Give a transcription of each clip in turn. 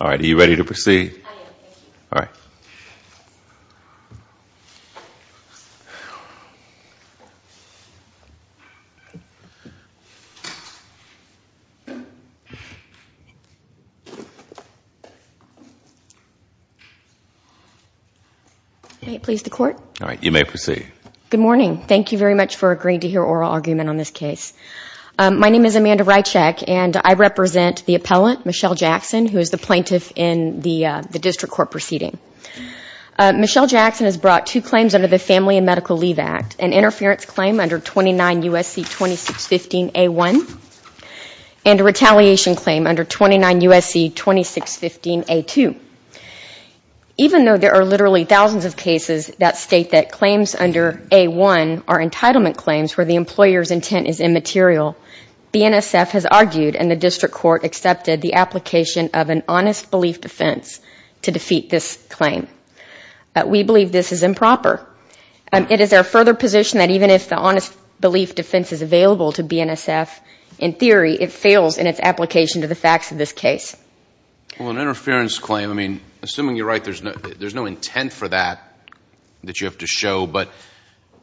All right, are you ready to proceed? I am, thank you. All right. May it please the Court? All right, you may proceed. Good morning. Thank you very much for agreeing to hear oral argument on this case. My name is Amanda Rycheck, and I represent the appellant, Michelle Jackson, who is the plaintiff in the district court proceeding. Michelle Jackson has brought two claims under the Family and Medical Leave Act, an interference claim under 29 U.S.C. 2615A1, and a retaliation claim under 29 U.S.C. 2615A2. Even though there are literally thousands of cases that state that claims under A1 are entitlement claims where the employer's intent is immaterial, BNSF has argued, and the district court accepted, the application of an honest belief defense to defeat this claim. We believe this is improper. It is our further position that even if the honest belief defense is available to BNSF, in theory, it fails in its application to the facts of this case. Well, an interference claim, I mean, assuming you're right, there's no intent for that that you have to show, but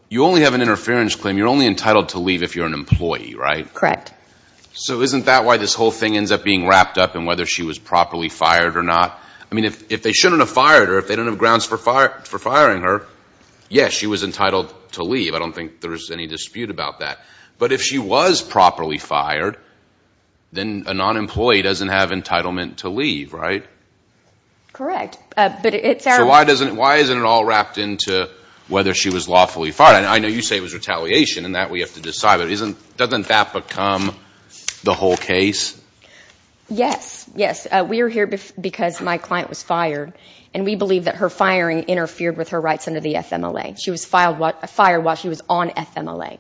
you only have an interference claim, you're only entitled to leave if you're an employee, right? Correct. So isn't that why this whole thing ends up being wrapped up in whether she was properly fired or not? I mean, if they shouldn't have fired her, if they don't have grounds for firing her, yes, she was entitled to leave. I don't think there's any dispute about that. But if she was properly fired, then a non-employee doesn't have entitlement to leave, right? Correct. So why isn't it all wrapped into whether she was lawfully fired? I know you say it was retaliation and that we have to decide, but doesn't that become the whole case? Yes, yes. We are here because my client was fired, and we believe that her firing interfered with her rights under the FMLA. She was fired while she was on FMLA.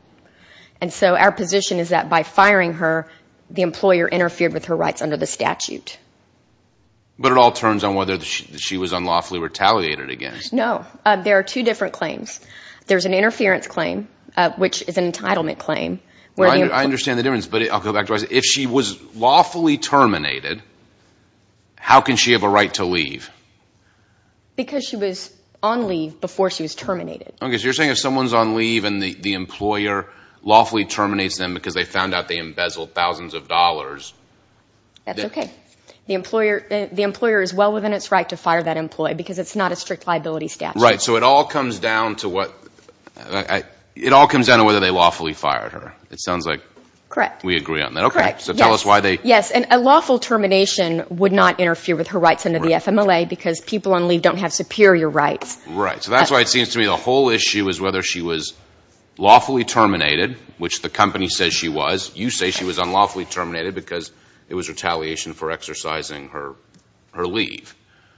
And so our position is that by firing her, the employer interfered with her rights under the statute. But it all turns on whether she was unlawfully retaliated against. No. There are two different claims. There's an interference claim, which is an entitlement claim. I understand the difference, but I'll go back to what I said. If she was lawfully terminated, how can she have a right to leave? Because she was on leave before she was terminated. Okay. So you're saying if someone's on leave and the employer lawfully terminates them because they found out they embezzled thousands of dollars. That's okay. The employer is well within its right to fire that employee because it's not a strict liability statute. Right. So it all comes down to whether they lawfully fired her. It sounds like we agree on that. Correct. Okay. Correct. Yes. And a lawful termination would not interfere with her rights under the FMLA because people on leave don't have superior rights. Right. So that's why it seems to me the whole issue is whether she was lawfully terminated, which the company says she was. You say she was unlawfully terminated because it was retaliation for exercising her leave.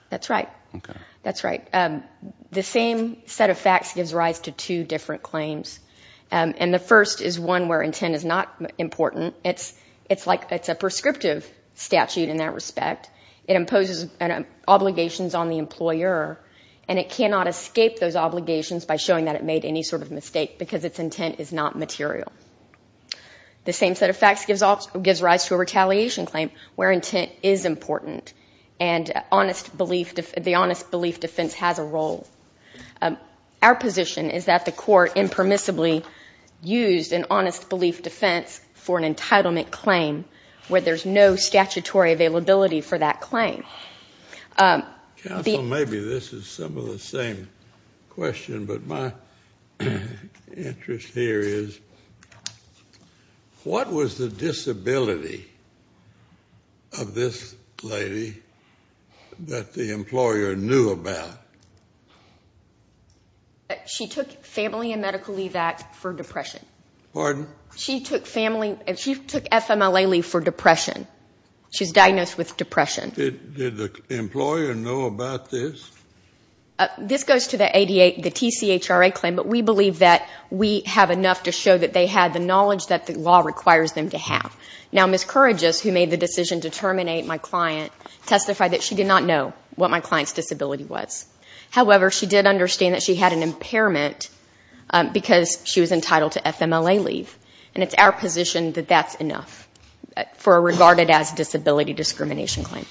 That's right. Okay. That's right. The same set of facts gives rise to two different claims. And the first is one where intent is not important. It's like it's a prescriptive statute in that respect. It imposes obligations on the employer and it cannot escape those obligations by showing that it made any sort of mistake because its intent is not material. The same set of facts gives rise to a retaliation claim where intent is important and the honest belief defense has a role. Our position is that the court impermissibly used an honest belief defense for an entitlement claim where there's no statutory availability for that claim. Counsel, maybe this is some of the same question, but my interest here is what was the disability of this lady that the employer knew about? She took Family and Medical Leave Act for depression. Pardon? She took FMLA leave for depression. She's diagnosed with depression. Did the employer know about this? This goes to the TCHRA claim, but we believe that we have enough to show that they had the knowledge that the law requires them to have. Now, Ms. Courageous, who made the decision to terminate my client, testified that she did not know what my client's disability was. However, she did understand that she had an impairment because she was entitled to FMLA leave. And it's our position that that's enough for a regarded as disability discrimination claim.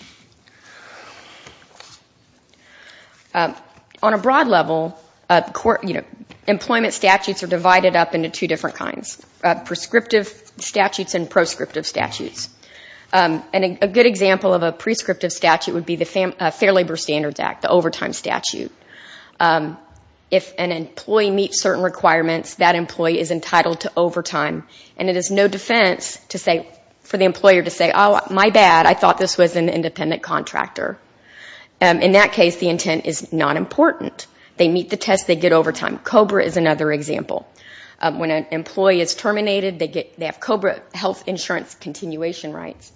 On a broad level, employment statutes are divided up into two different kinds, prescriptive statutes and proscriptive statutes. And a good example of a prescriptive statute would be the Fair Labor Standards Act, the overtime statute. If an employee meets certain requirements, that employee is entitled to overtime. And it is no defense for the employer to say, oh, my bad, I thought this was an independent contractor. In that case, the intent is not important. They meet the test. They get overtime. COBRA is another example. When an employee is terminated, they have COBRA health insurance continuation rights.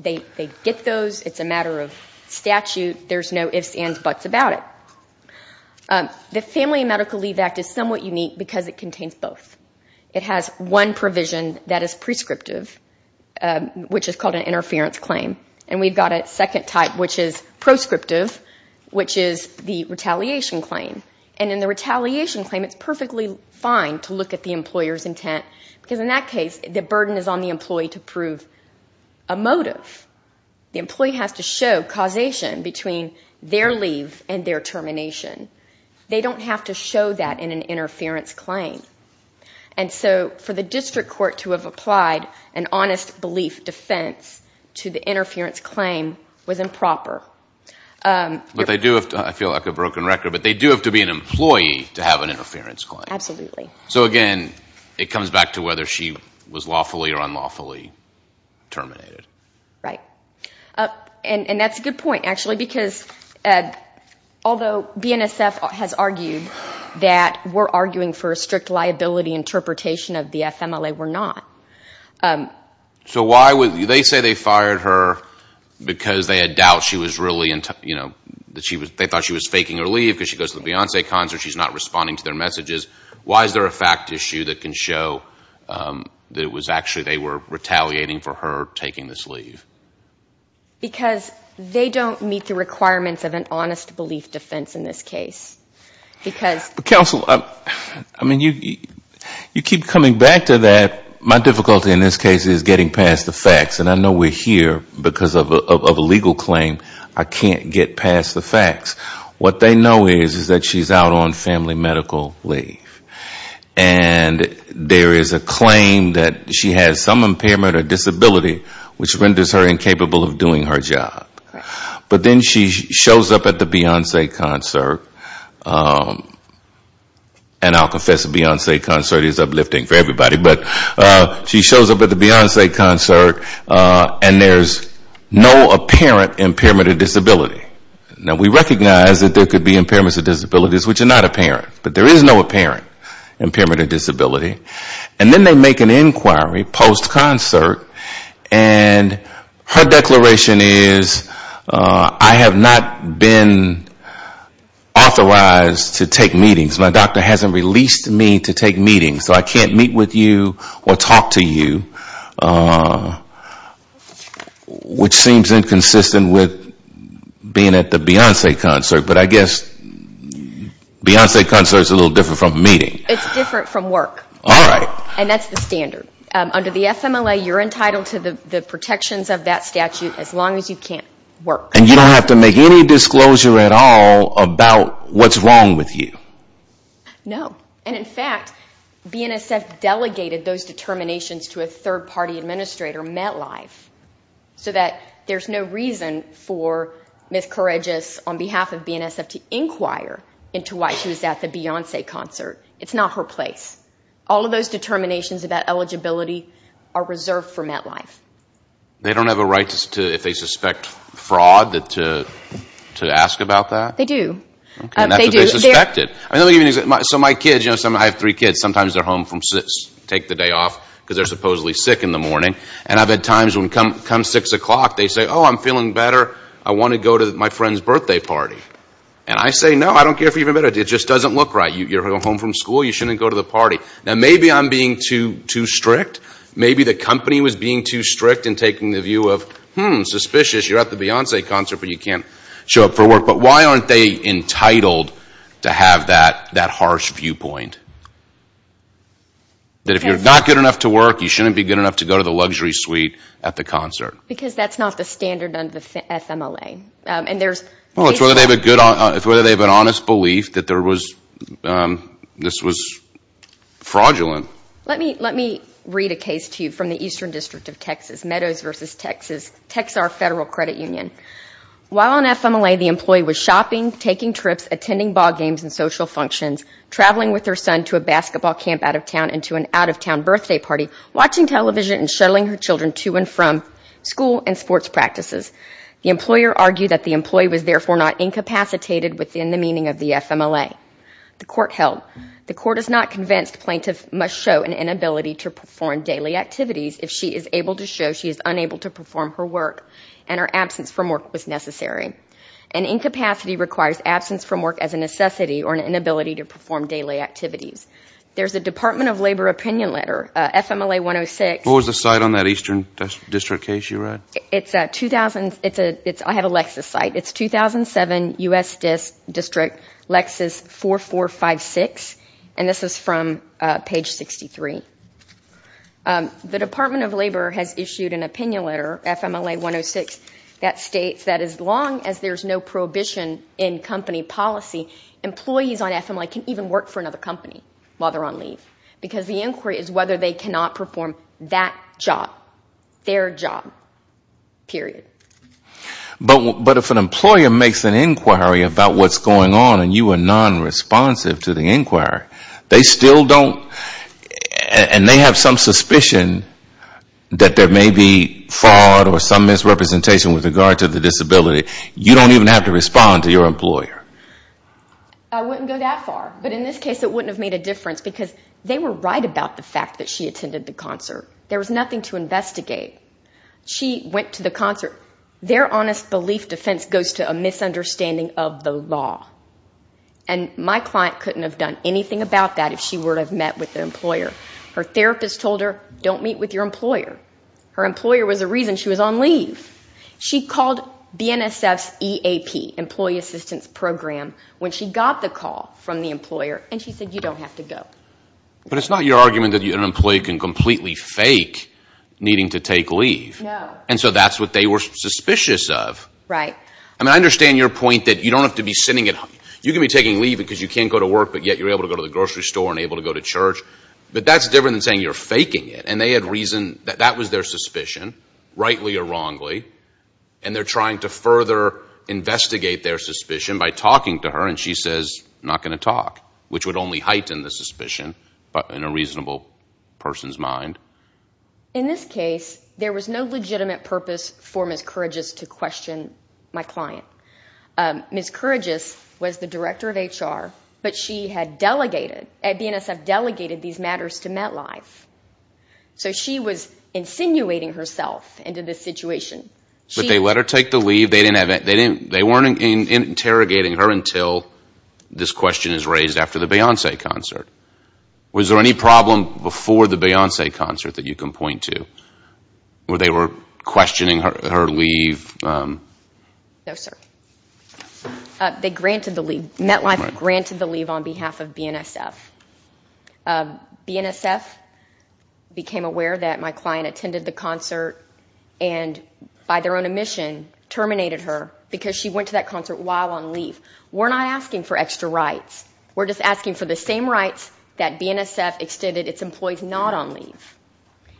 They get those. It's a matter of statute. There's no ifs, ands, buts about it. The Family and Medical Leave Act is somewhat unique because it contains both. It has one provision that is prescriptive, which is called an interference claim. And we've got a second type, which is proscriptive, which is the retaliation claim. And in the retaliation claim, it's perfectly fine to look at the employer's intent, because in that case, the burden is on the employee to prove a motive. The employee has to show causation between their leave and their termination. They don't have to show that in an interference claim. And so for the district court to have applied an honest belief defense to the interference claim was improper. I feel like a broken record, but they do have to be an employee to have an interference claim. Absolutely. So, again, it comes back to whether she was lawfully or unlawfully terminated. Right. And that's a good point, actually, because although BNSF has argued that we're arguing for a strict liability interpretation of the FMLA, we're not. So why would they say they fired her because they had doubt she was really, you know, they thought she was faking her leave because she goes to the Beyonce concert, she's not responding to their messages. Why is there a fact issue that can show that it was actually they were retaliating for her taking this leave? Because they don't meet the requirements of an honest belief defense in this case. Counsel, I mean, you keep coming back to that. My difficulty in this case is getting past the facts. And I know we're here because of a legal claim. I can't get past the facts. What they know is that she's out on family medical leave. And there is a claim that she has some impairment or disability which renders her incapable of doing her job. But then she shows up at the Beyonce concert. And I'll confess, the Beyonce concert is uplifting for everybody. But she shows up at the Beyonce concert and there's no apparent impairment or disability. Now, we recognize that there could be impairments or disabilities which are not apparent. But there is no apparent impairment or disability. And then they make an inquiry post-concert. And her declaration is, I have not been authorized to take meetings. My doctor hasn't released me to take meetings. So I can't meet with you or talk to you, which seems inconsistent with being at the Beyonce concert. But I guess Beyonce concert is a little different from a meeting. It's different from work. All right. And that's the standard. Under the FMLA, you're entitled to the protections of that statute as long as you can't work. And you don't have to make any disclosure at all about what's wrong with you. No. And, in fact, BNSF delegated those determinations to a third-party administrator, MetLife, so that there's no reason for Miss Courageous, on behalf of BNSF, to inquire into why she was at the Beyonce concert. It's not her place. All of those determinations about eligibility are reserved for MetLife. They don't have a right if they suspect fraud to ask about that? They do. And that's what they suspected. So my kids, I have three kids. Sometimes they're home from take the day off because they're supposedly sick in the morning. And I've had times when, come 6 o'clock, they say, oh, I'm feeling better. I want to go to my friend's birthday party. And I say, no, I don't care if you're better. It just doesn't look right. You're home from school. You shouldn't go to the party. Now, maybe I'm being too strict. Maybe the company was being too strict in taking the view of, hmm, suspicious. You're at the Beyonce concert, but you can't show up for work. But why aren't they entitled to have that harsh viewpoint? That if you're not good enough to work, you shouldn't be good enough to go to the luxury suite at the concert. Because that's not the standard under the FMLA. And there's – Well, it's whether they have a good – it's whether they have an honest belief that there was – this was fraudulent. Let me read a case to you from the Eastern District of Texas. Meadows versus Texas. Texar Federal Credit Union. While on FMLA, the employee was shopping, taking trips, attending ball games and social functions, traveling with her son to a basketball camp out of town and to an out-of-town birthday party, watching television and shuttling her children to and from school and sports practices. The employer argued that the employee was therefore not incapacitated within the meaning of the FMLA. The court held. The court is not convinced plaintiff must show an inability to perform daily activities if she is able to show she is unable to perform her work and her absence from work was necessary. An incapacity requires absence from work as a necessity or an inability to perform daily activities. There's a Department of Labor opinion letter, FMLA-106. What was the site on that Eastern District case you read? It's a – I have a Lexus site. It's 2007, U.S. District, Lexus 4456. And this is from page 63. The Department of Labor has issued an opinion letter, FMLA-106, that states that as long as there's no prohibition in company policy, employees on FMLA can even work for another company while they're on leave. Because the inquiry is whether they cannot perform that job, their job, period. But if an employer makes an inquiry about what's going on and you are nonresponsive to the inquiry, they still don't – and they have some suspicion that there may be fraud or some misrepresentation with regard to the disability. You don't even have to respond to your employer. I wouldn't go that far. But in this case it wouldn't have made a difference because they were right about the fact that she attended the concert. There was nothing to investigate. She went to the concert. Their honest belief defense goes to a misunderstanding of the law. And my client couldn't have done anything about that if she were to have met with the employer. Her therapist told her, don't meet with your employer. Her employer was the reason she was on leave. She called BNSF's EAP, Employee Assistance Program, when she got the call from the employer. And she said, you don't have to go. But it's not your argument that an employee can completely fake needing to take leave. No. And so that's what they were suspicious of. Right. I mean, I understand your point that you don't have to be sitting at home. You can be taking leave because you can't go to work, but yet you're able to go to the grocery store and able to go to church. But that's different than saying you're faking it. And they had reason that that was their suspicion, rightly or wrongly. And they're trying to further investigate their suspicion by talking to her. And she says, I'm not going to talk, which would only heighten the suspicion in a reasonable person's mind. In this case, there was no legitimate purpose for Ms. Couragous to question my client. Ms. Couragous was the director of HR, but she had delegated, at BNSF, delegated these matters to MetLife. So she was insinuating herself into this situation. But they let her take the leave. They weren't interrogating her until this question is raised after the Beyoncé concert. Was there any problem before the Beyoncé concert that you can point to where they were questioning her leave? No, sir. They granted the leave. MetLife granted the leave on behalf of BNSF. BNSF became aware that my client attended the concert and, by their own omission, terminated her because she went to that concert while on leave. We're not asking for extra rights. We're just asking for the same rights that BNSF extended its employees not on leave.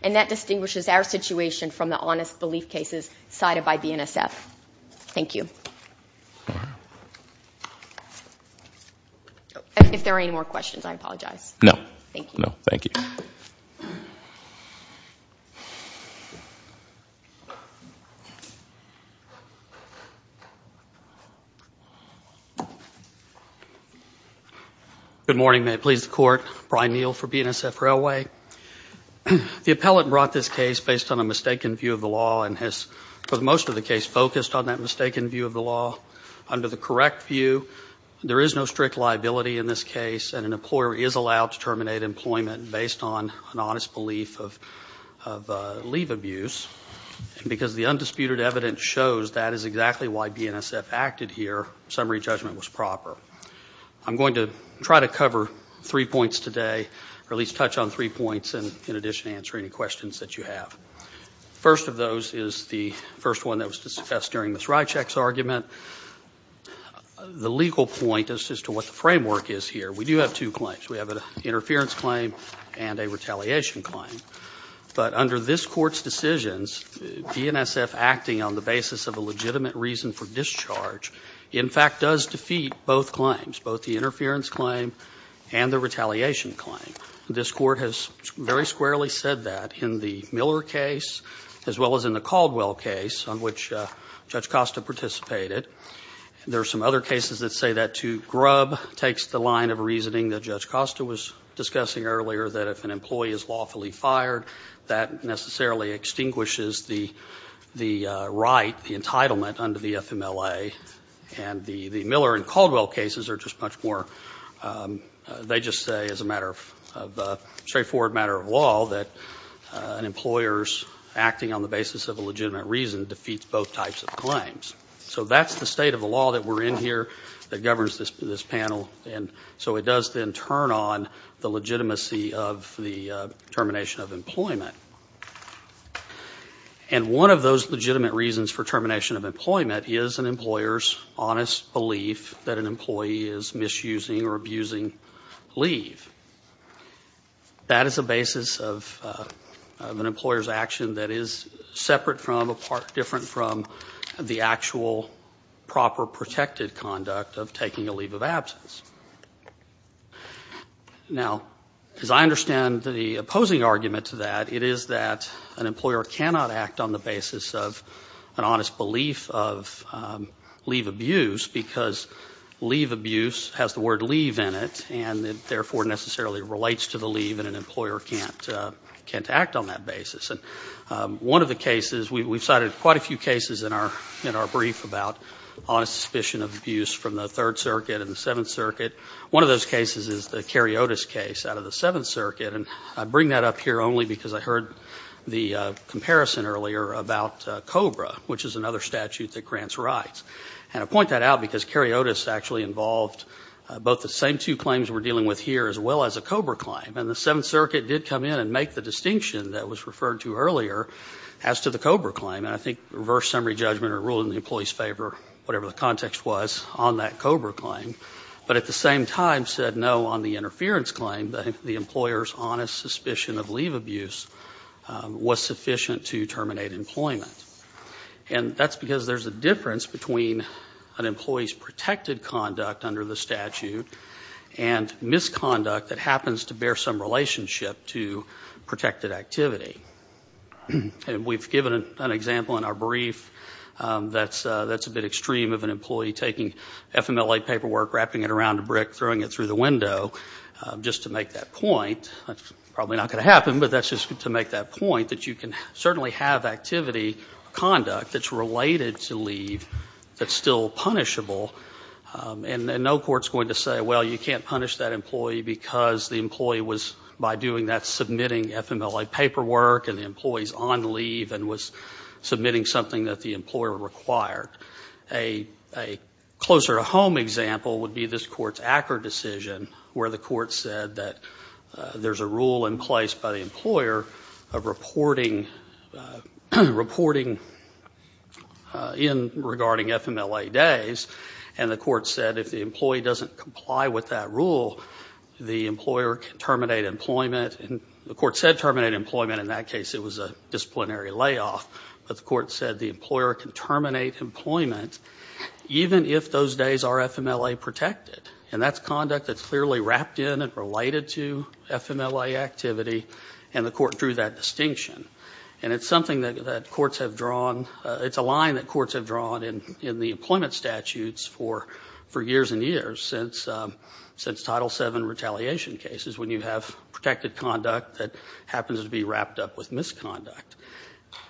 And that distinguishes our situation from the honest belief cases cited by BNSF. Thank you. If there are any more questions, I apologize. No, thank you. Good morning. May it please the Court. Brian Neal for BNSF Railway. The appellate brought this case based on a mistaken view of the law and has, for most of the case, focused on that mistaken view of the law. Under the correct view, there is no strict liability in this case and an employer is allowed to terminate employment based on an honest belief of leave abuse. And because the undisputed evidence shows that is exactly why BNSF acted here, our summary judgment was proper. I'm going to try to cover three points today, or at least touch on three points and, in addition, answer any questions that you have. The first of those is the first one that was discussed during Ms. Rycheck's argument. The legal point as to what the framework is here, we do have two claims. We have an interference claim and a retaliation claim. But under this Court's decisions, BNSF acting on the basis of a legitimate reason for discharge in fact does defeat both claims, both the interference claim and the retaliation claim. This Court has very squarely said that in the Miller case as well as in the Caldwell case on which Judge Costa participated. There are some other cases that say that too. Grubb takes the line of reasoning that Judge Costa was discussing earlier that if an employee is lawfully fired, that necessarily extinguishes the right, the entitlement under the FMLA. And the Miller and Caldwell cases are just much more, they just say as a matter of, a straightforward matter of law that an employer's acting on the basis of a legitimate reason defeats both types of claims. So that's the state of the law that we're in here that governs this panel and so it does then turn on the legitimacy of the termination of employment. And one of those legitimate reasons for termination of employment is an employer's honest belief that an employee is misusing or abusing leave. That is a basis of an employer's action that is separate from, different from the actual proper protected conduct of taking a leave of absence. Now, as I understand the opposing argument to that, it is that an employer cannot act on the basis of an honest belief of leave abuse because leave abuse has the word leave in it and it therefore necessarily relates to the leave and an employer can't act on that basis. And one of the cases, we've cited quite a few cases in our brief about honest suspicion of abuse from the Third Circuit and the Seventh Circuit. One of those cases is the Karyotis case out of the Seventh Circuit and I bring that up here only because I heard the comparison earlier about COBRA, which is another statute that grants rights. And I point that out because Karyotis actually involved both the same two claims we're dealing with here as well as a COBRA claim and the Seventh Circuit did come in and make the distinction that was referred to earlier as to the COBRA claim and I think reverse summary judgment or ruling the employee's favor, whatever the context was, on that COBRA claim, but at the same time said no on the interference claim and the employer's honest suspicion of leave abuse was sufficient to terminate employment. And that's because there's a difference between an employee's protected conduct under the statute and misconduct that happens to bear some relationship to protected activity. And we've given an example in our brief that's a bit extreme of an employee taking FMLA paperwork, wrapping it around a brick, throwing it through the window just to make that point. That's probably not going to happen, but that's just to make that point that you can certainly have activity conduct that's related to leave that's still punishable and no court's going to say, well, you can't punish that employee because the employee was, by doing that, submitting FMLA paperwork and the employee's on leave and was submitting something that the employer required. A closer-to-home example would be this court's Acker decision where the court said that there's a rule in place by the employer of reporting in regarding FMLA days and the court said if the employee doesn't comply with that rule, the employer can terminate employment and the court said terminate employment and in that case it was a disciplinary layoff, but the court said the employer can terminate employment even if those days are FMLA protected and that's conduct that's clearly wrapped in and related to FMLA activity and the court drew that distinction and it's a line that courts have drawn in the employment statutes for years and years since Title VII retaliation cases when you have protected conduct that happens to be wrapped up with misconduct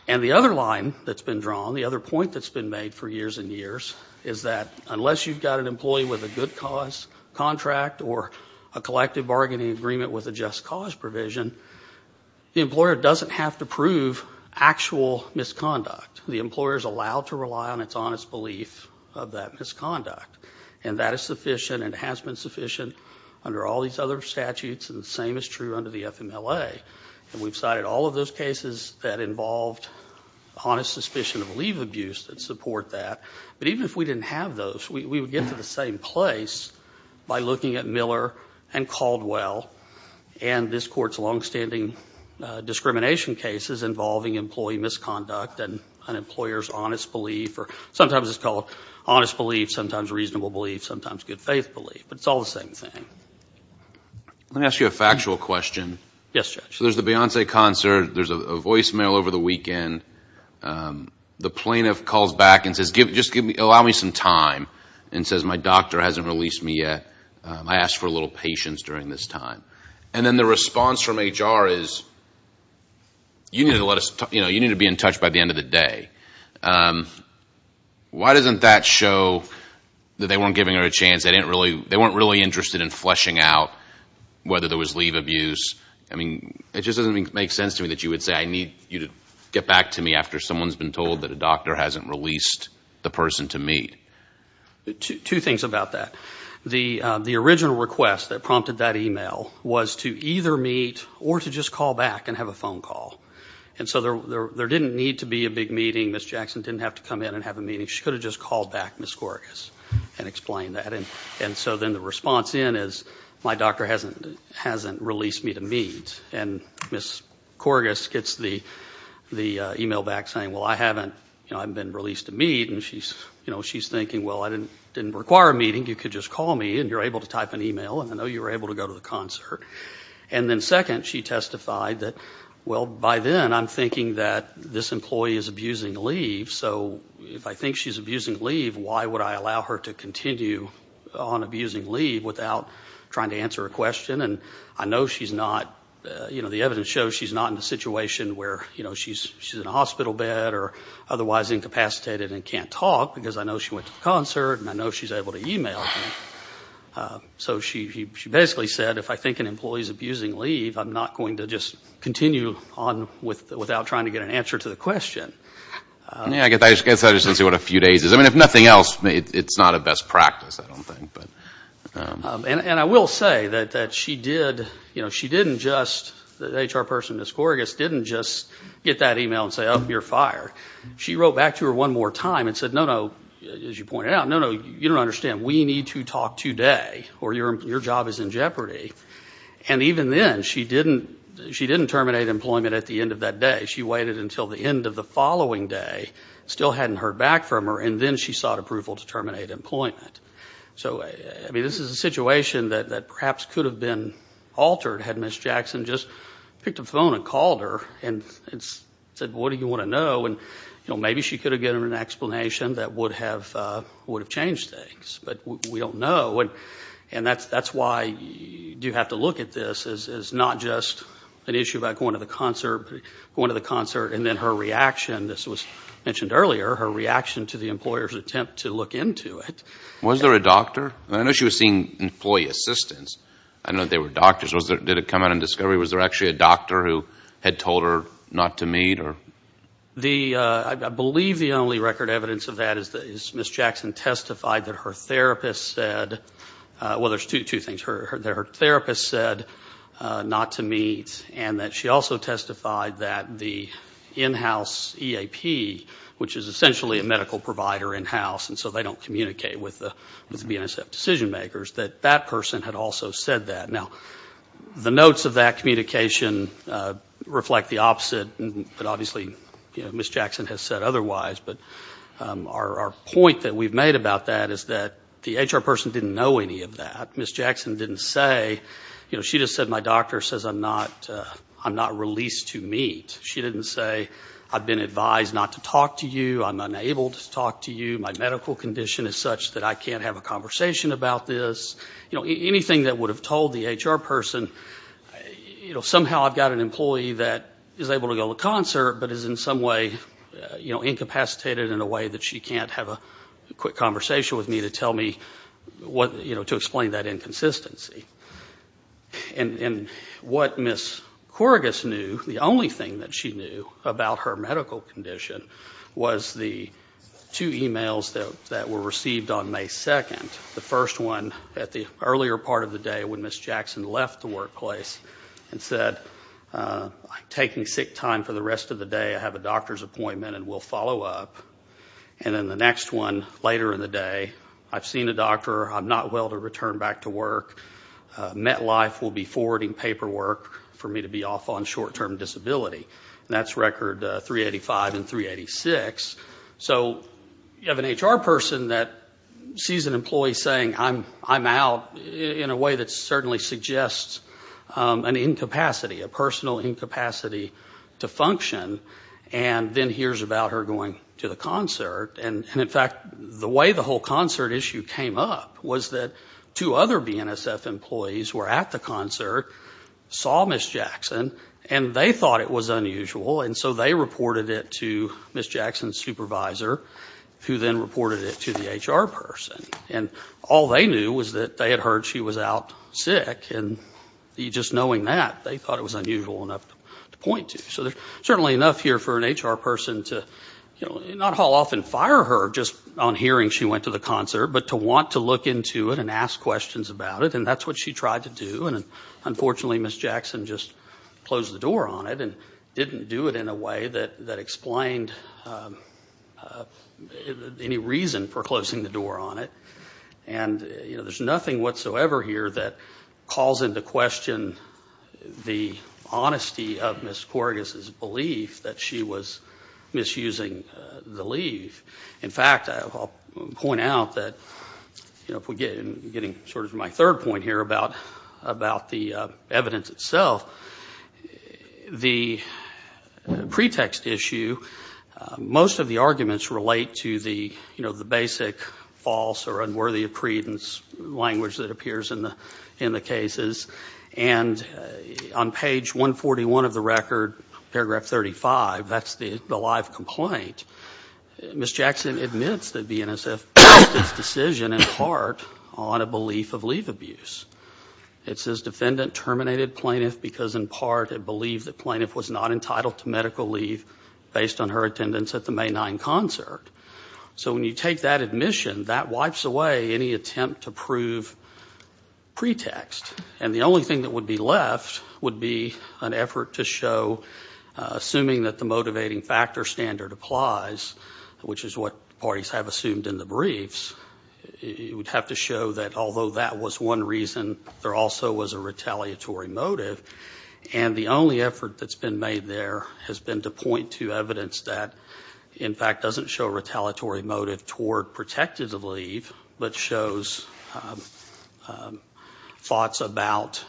and the other line that's been drawn, the other point that's been made for years and years is that unless you've got an employee with a good cause contract or a collective bargaining agreement with a just cause provision the employer doesn't have to prove actual misconduct. The employer's allowed to rely on its honest belief of that misconduct and that is sufficient and has been sufficient under all these other statutes and the same is true under the FMLA and we've cited all of those cases that involved honest suspicion of leave abuse that support that but even if we didn't have those, we would get to the same place by looking at Miller and Caldwell and this court's long-standing discrimination cases involving employee misconduct and an employer's honest belief or sometimes it's called honest belief, sometimes reasonable belief, sometimes good faith belief but it's all the same thing. Let me ask you a factual question. Yes, Judge. So there's the Beyonce concert, there's a voicemail over the weekend the plaintiff calls back and says allow me some time and says my doctor hasn't released me yet I asked for a little patience during this time and then the response from HR is you need to be in touch by the end of the day why doesn't that show that they weren't giving her a chance they weren't really interested in fleshing out whether there was leave abuse it just doesn't make sense to me that you would say I need you to get back to me after someone's been told that a doctor hasn't released the person to meet Two things about that the original request that prompted that email was to either meet or to just call back and have a phone call and so there didn't need to be a big meeting Ms. Jackson didn't have to come in and have a meeting she could have just called back Ms. Corgis and explained that and so then the response then is my doctor hasn't released me to meet and Ms. Corgis gets the email back saying well I haven't been released to meet and she's thinking well I didn't require a meeting you could just call me and you're able to type an email and I know you were able to go to the concert and then second she testified that well by then I'm thinking that this employee is abusing leave so if I think she's abusing leave why would I allow her to continue on abusing leave without trying to answer a question and I know she's not the evidence shows she's not in a situation where she's in a hospital bed or otherwise incapacitated and can't talk because I know she went to the concert and I know she's able to email so she basically said if I think an employee's abusing leave I'm not going to just continue on without trying to get an answer to the question. I guess I just didn't see what a few days is I mean if nothing else it's not a best practice I don't think and I will say that she did she didn't just the HR person Ms. Corgis didn't just get that email and say oh you're fired she wrote back to her one more time and said no no as you pointed out no no you don't understand we need to talk today or your job is in jeopardy and even then she didn't terminate employment at the end of that day she waited until the end of the following day still hadn't heard back from her and then she sought approval to terminate employment so this is a situation that perhaps could have been altered had Ms. Jackson just picked up the phone and called her and said what do you want to know and maybe she could have given her an explanation that would have changed things but we don't know and that's why you have to look at this as not just an issue about going to the concert and then her reaction this was mentioned earlier her reaction to the employer's attempt to look into it. Was there a doctor? I know she was seeing employee assistants did it come out in discovery was there actually a doctor who had told her not to meet? I believe the only record evidence of that is Ms. Jackson testified that her therapist said well there's two things her therapist said not to meet and that she also testified that the in-house EAP which is essentially a medical provider in-house and so they don't communicate with the BNSF decision makers that that person had also said that. Now the notes of that communication reflect the opposite but obviously Ms. Jackson has said otherwise but our point that we've made about that is that the HR person didn't know any of that Ms. Jackson didn't say she just said my doctor says I'm not released to meet she didn't say I've been advised not to talk to you I'm unable to talk to you my medical condition is such that I can't have a conversation about this anything that would have told the HR person somehow I've got an employee that is able to go to in a way that she can't have a quick conversation with me to explain that inconsistency and what Ms. Corrigus knew the only thing that she knew about her medical condition was the two emails that were received on May 2nd the first one at the earlier part of the day when Ms. Jackson left the workplace and said I'm taking sick time for the rest of the day I have a doctor's appointment and will follow up and then the next one later in the day I've seen a doctor, I'm not well to return back to work MetLife will be forwarding paperwork for me to be off on short term disability and that's record 385 and 386 so you have an HR person that sees an employee saying I'm out in a way that certainly suggests an incapacity a personal incapacity to function and then hears about her going to the concert and in fact the way the whole concert issue came up was that two other BNSF employees were at the concert, saw Ms. Jackson and they thought it was unusual and so they reported it to Ms. Jackson's supervisor who then reported it to the HR person and all they knew was that they had heard she was out sick and just knowing that they thought it was unusual enough to point to so there's certainly enough here for an HR person to not haul off and fire her just on hearing she went to the concert but to want to look into it and ask questions about it and that's what she tried to do and unfortunately Ms. Jackson just closed the door on it and didn't do it in a way that explained any reason for closing the door on it and there's nothing whatsoever here that calls into question the honesty of Ms. Corrigus' belief that she was misusing the leave in fact I'll point out that getting to my third point here about the evidence itself the pretext issue most of the arguments relate to the basic false or unworthy of credence language that appears in the cases and on page 141 of the record paragraph 35 that's the live complaint Ms. Jackson admits that the NSF based its decision in part on a belief of leave abuse it says defendant terminated plaintiff because in part it believed that plaintiff was not entitled to medical leave based on her attendance at the May 9 concert so when you take that admission that wipes away any attempt to prove pretext and the only thing that would be left would be an effort to show assuming that the motivating factor standard applies which is what parties have assumed in the briefs you would have to show that although that was one reason there also was a retaliatory motive and the only effort that's been made there has been to point to evidence that in fact doesn't show a retaliatory motive toward protective leave but shows thoughts about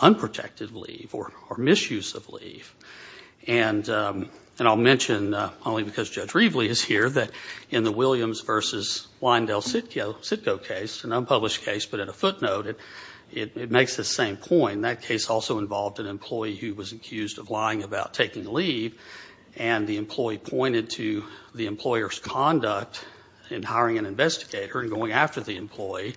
unprotected leave or misuse of leave and I'll mention only because Judge Reveley is here that in the Williams vs. Weindell-Sitko case, an unpublished case but at a footnote it makes the same point, that case also involved an employee who was accused of lying about taking leave and the employee pointed to the employer's conduct in hiring an investigator and going after the employee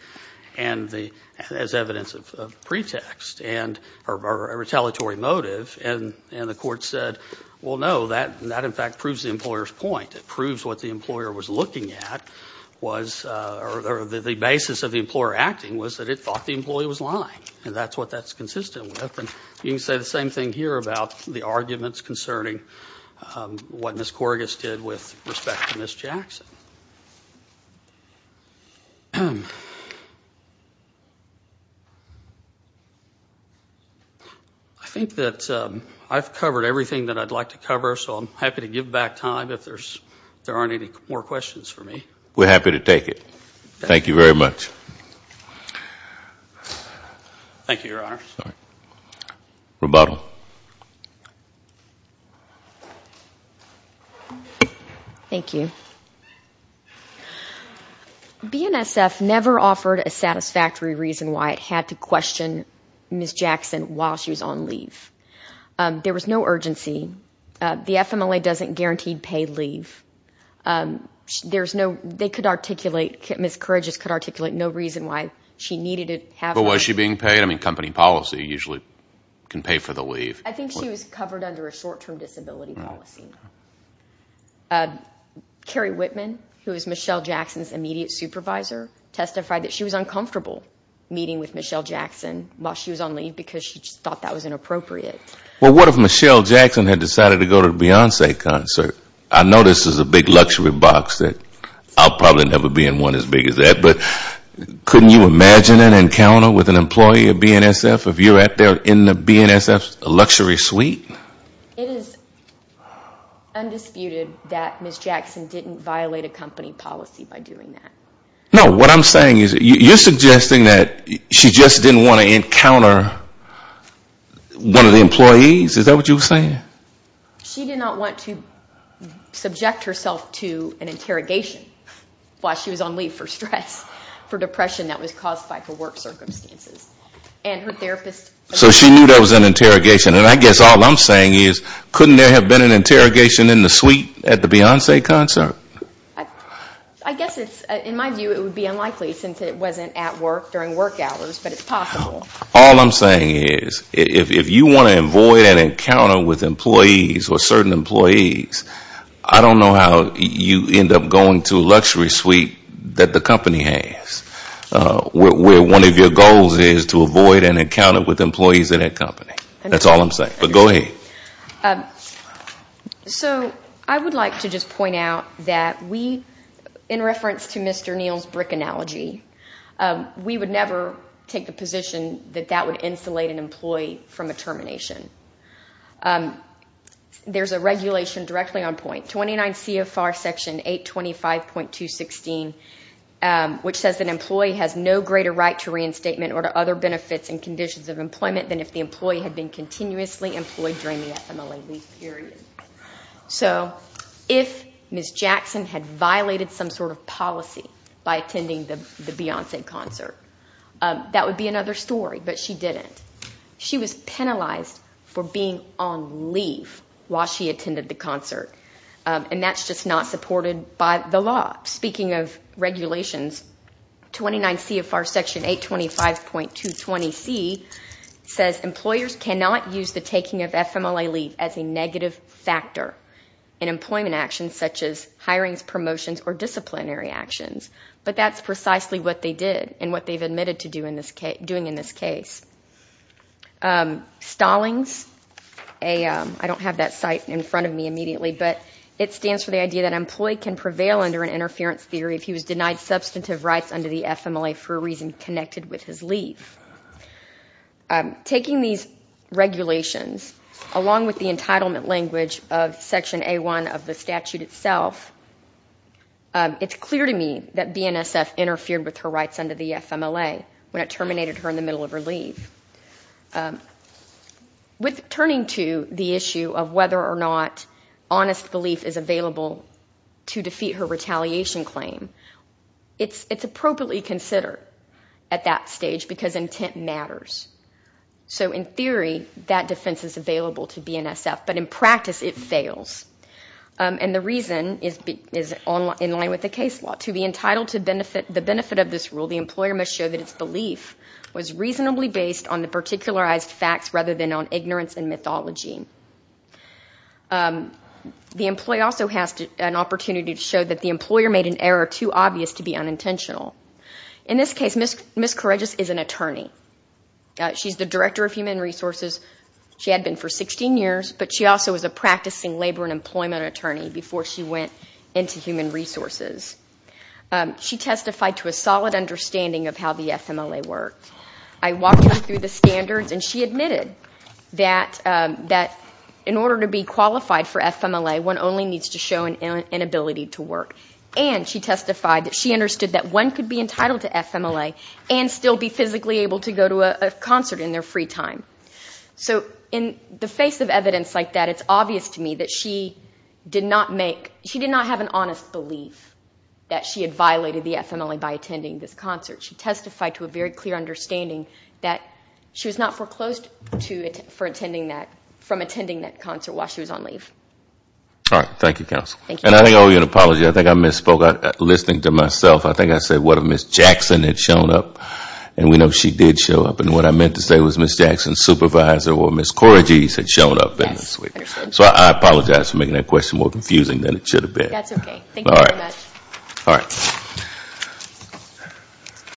as evidence of pretext or a retaliatory motive and the court said well no, that in fact proves the employer's point it proves what the employer was looking at or the basis of the employer acting was that it thought the employee was lying and that's what that's consistent with and you can say the same thing here about the arguments concerning what Ms. Corrigus did with respect to Ms. Jackson I think that I've covered everything that I'd like to cover so I'm happy to give back time if there aren't any more questions for me We're happy to take it. Thank you very much. Thank you, your honor Rebuttal Thank you BNSF never offered a satisfactory reason why it had to question Ms. Jackson while she was on leave. There was no urgency The FMLA doesn't guarantee paid leave Ms. Corrigus could articulate no reason why she needed it But was she being paid? I mean company policy usually can pay for the leave I think she was covered under a short term disability policy Carrie Whitman, who is Michelle Jackson's immediate supervisor testified that she was uncomfortable meeting with Michelle Jackson while she was on leave because she thought that was inappropriate What if Michelle Jackson had decided to go to the Beyoncé concert? I know this is a big luxury box I'll probably never be in one as big as that but couldn't you imagine an encounter with an employee of BNSF if you're in the BNSF's luxury suite? It is undisputed that Ms. Jackson didn't violate a company policy by doing that No, what I'm saying is you're suggesting that she just didn't want to encounter one of the employees? Is that what you're saying? She did not want to subject herself to an interrogation while she was on leave for stress for depression that was caused by her work circumstances So she knew that was an interrogation and I guess all I'm saying is couldn't there have been an interrogation in the suite at the Beyoncé concert? I guess in my view it would be unlikely since it wasn't at work during work hours but it's possible All I'm saying is if you want to avoid an encounter with employees or certain employees, I don't know how you end up going to a luxury suite that the company has where one of your goals is to avoid an encounter with employees in that company That's all I'm saying, but go ahead So I would like to just point out that we, in reference to Mr. Neal's brick analogy we would never take the position that that would insulate an employee from a termination There's a regulation directly on point 29 CFR section 825.216 which says that an employee has no greater right to reinstatement or to other benefits and conditions of employment than if the employee had been continuously employed during the FMLA leave period So if Ms. Jackson had violated some sort of policy by attending the Beyoncé concert that would be another story, but she didn't She was penalized for being on leave while she attended the concert and that's just not supported by the law Speaking of regulations 29 CFR section 825.220C says employers cannot use the taking of FMLA leave as a negative factor in employment actions such as hirings, promotions, or disciplinary actions But that's precisely what they did and what they've admitted to doing in this case Stallings I don't have that site in front of me immediately but it stands for the idea that an employee can prevail under an interference theory if he was denied substantive rights under the FMLA for a reason connected with his leave Taking these regulations along with the entitlement language of section A1 of the statute itself it's clear to me that BNSF interfered with her rights under the FMLA when it terminated her in the middle of her leave With turning to the issue of whether or not honest belief is available to defeat her retaliation claim it's appropriately considered at that stage because intent matters So in theory that defense is available to BNSF but in practice it fails and the reason is in line with the case law To be entitled to the benefit of this rule the employer must show that its belief was reasonably based on the particularized facts rather than on ignorance and mythology The employee also has an opportunity to show that the employer made an error too obvious to be unintentional In this case, Ms. Kouregis is an attorney She's the director of human resources She had been for 16 years but she also was a practicing labor and employment attorney before she went into human resources She testified to a solid understanding of how the FMLA worked I walked her through the standards and she admitted that in order to be qualified for FMLA one only needs to show an ability to work and she testified that she understood that one could be entitled to FMLA and still be physically able to go to a concert in their free time So in the face of evidence like that it's obvious to me that she did not have an honest belief that she had violated the FMLA by attending this concert She testified to a very clear understanding that she was not foreclosed from attending that concert while she was on leave Thank you counsel. I think I misspoke. I think I said what if Ms. Jackson had shown up and we know she did show up and what I meant to say was Ms. Jackson's supervisor or Ms. Kouregis had shown up So I apologize for making that question more confusing than it should have been.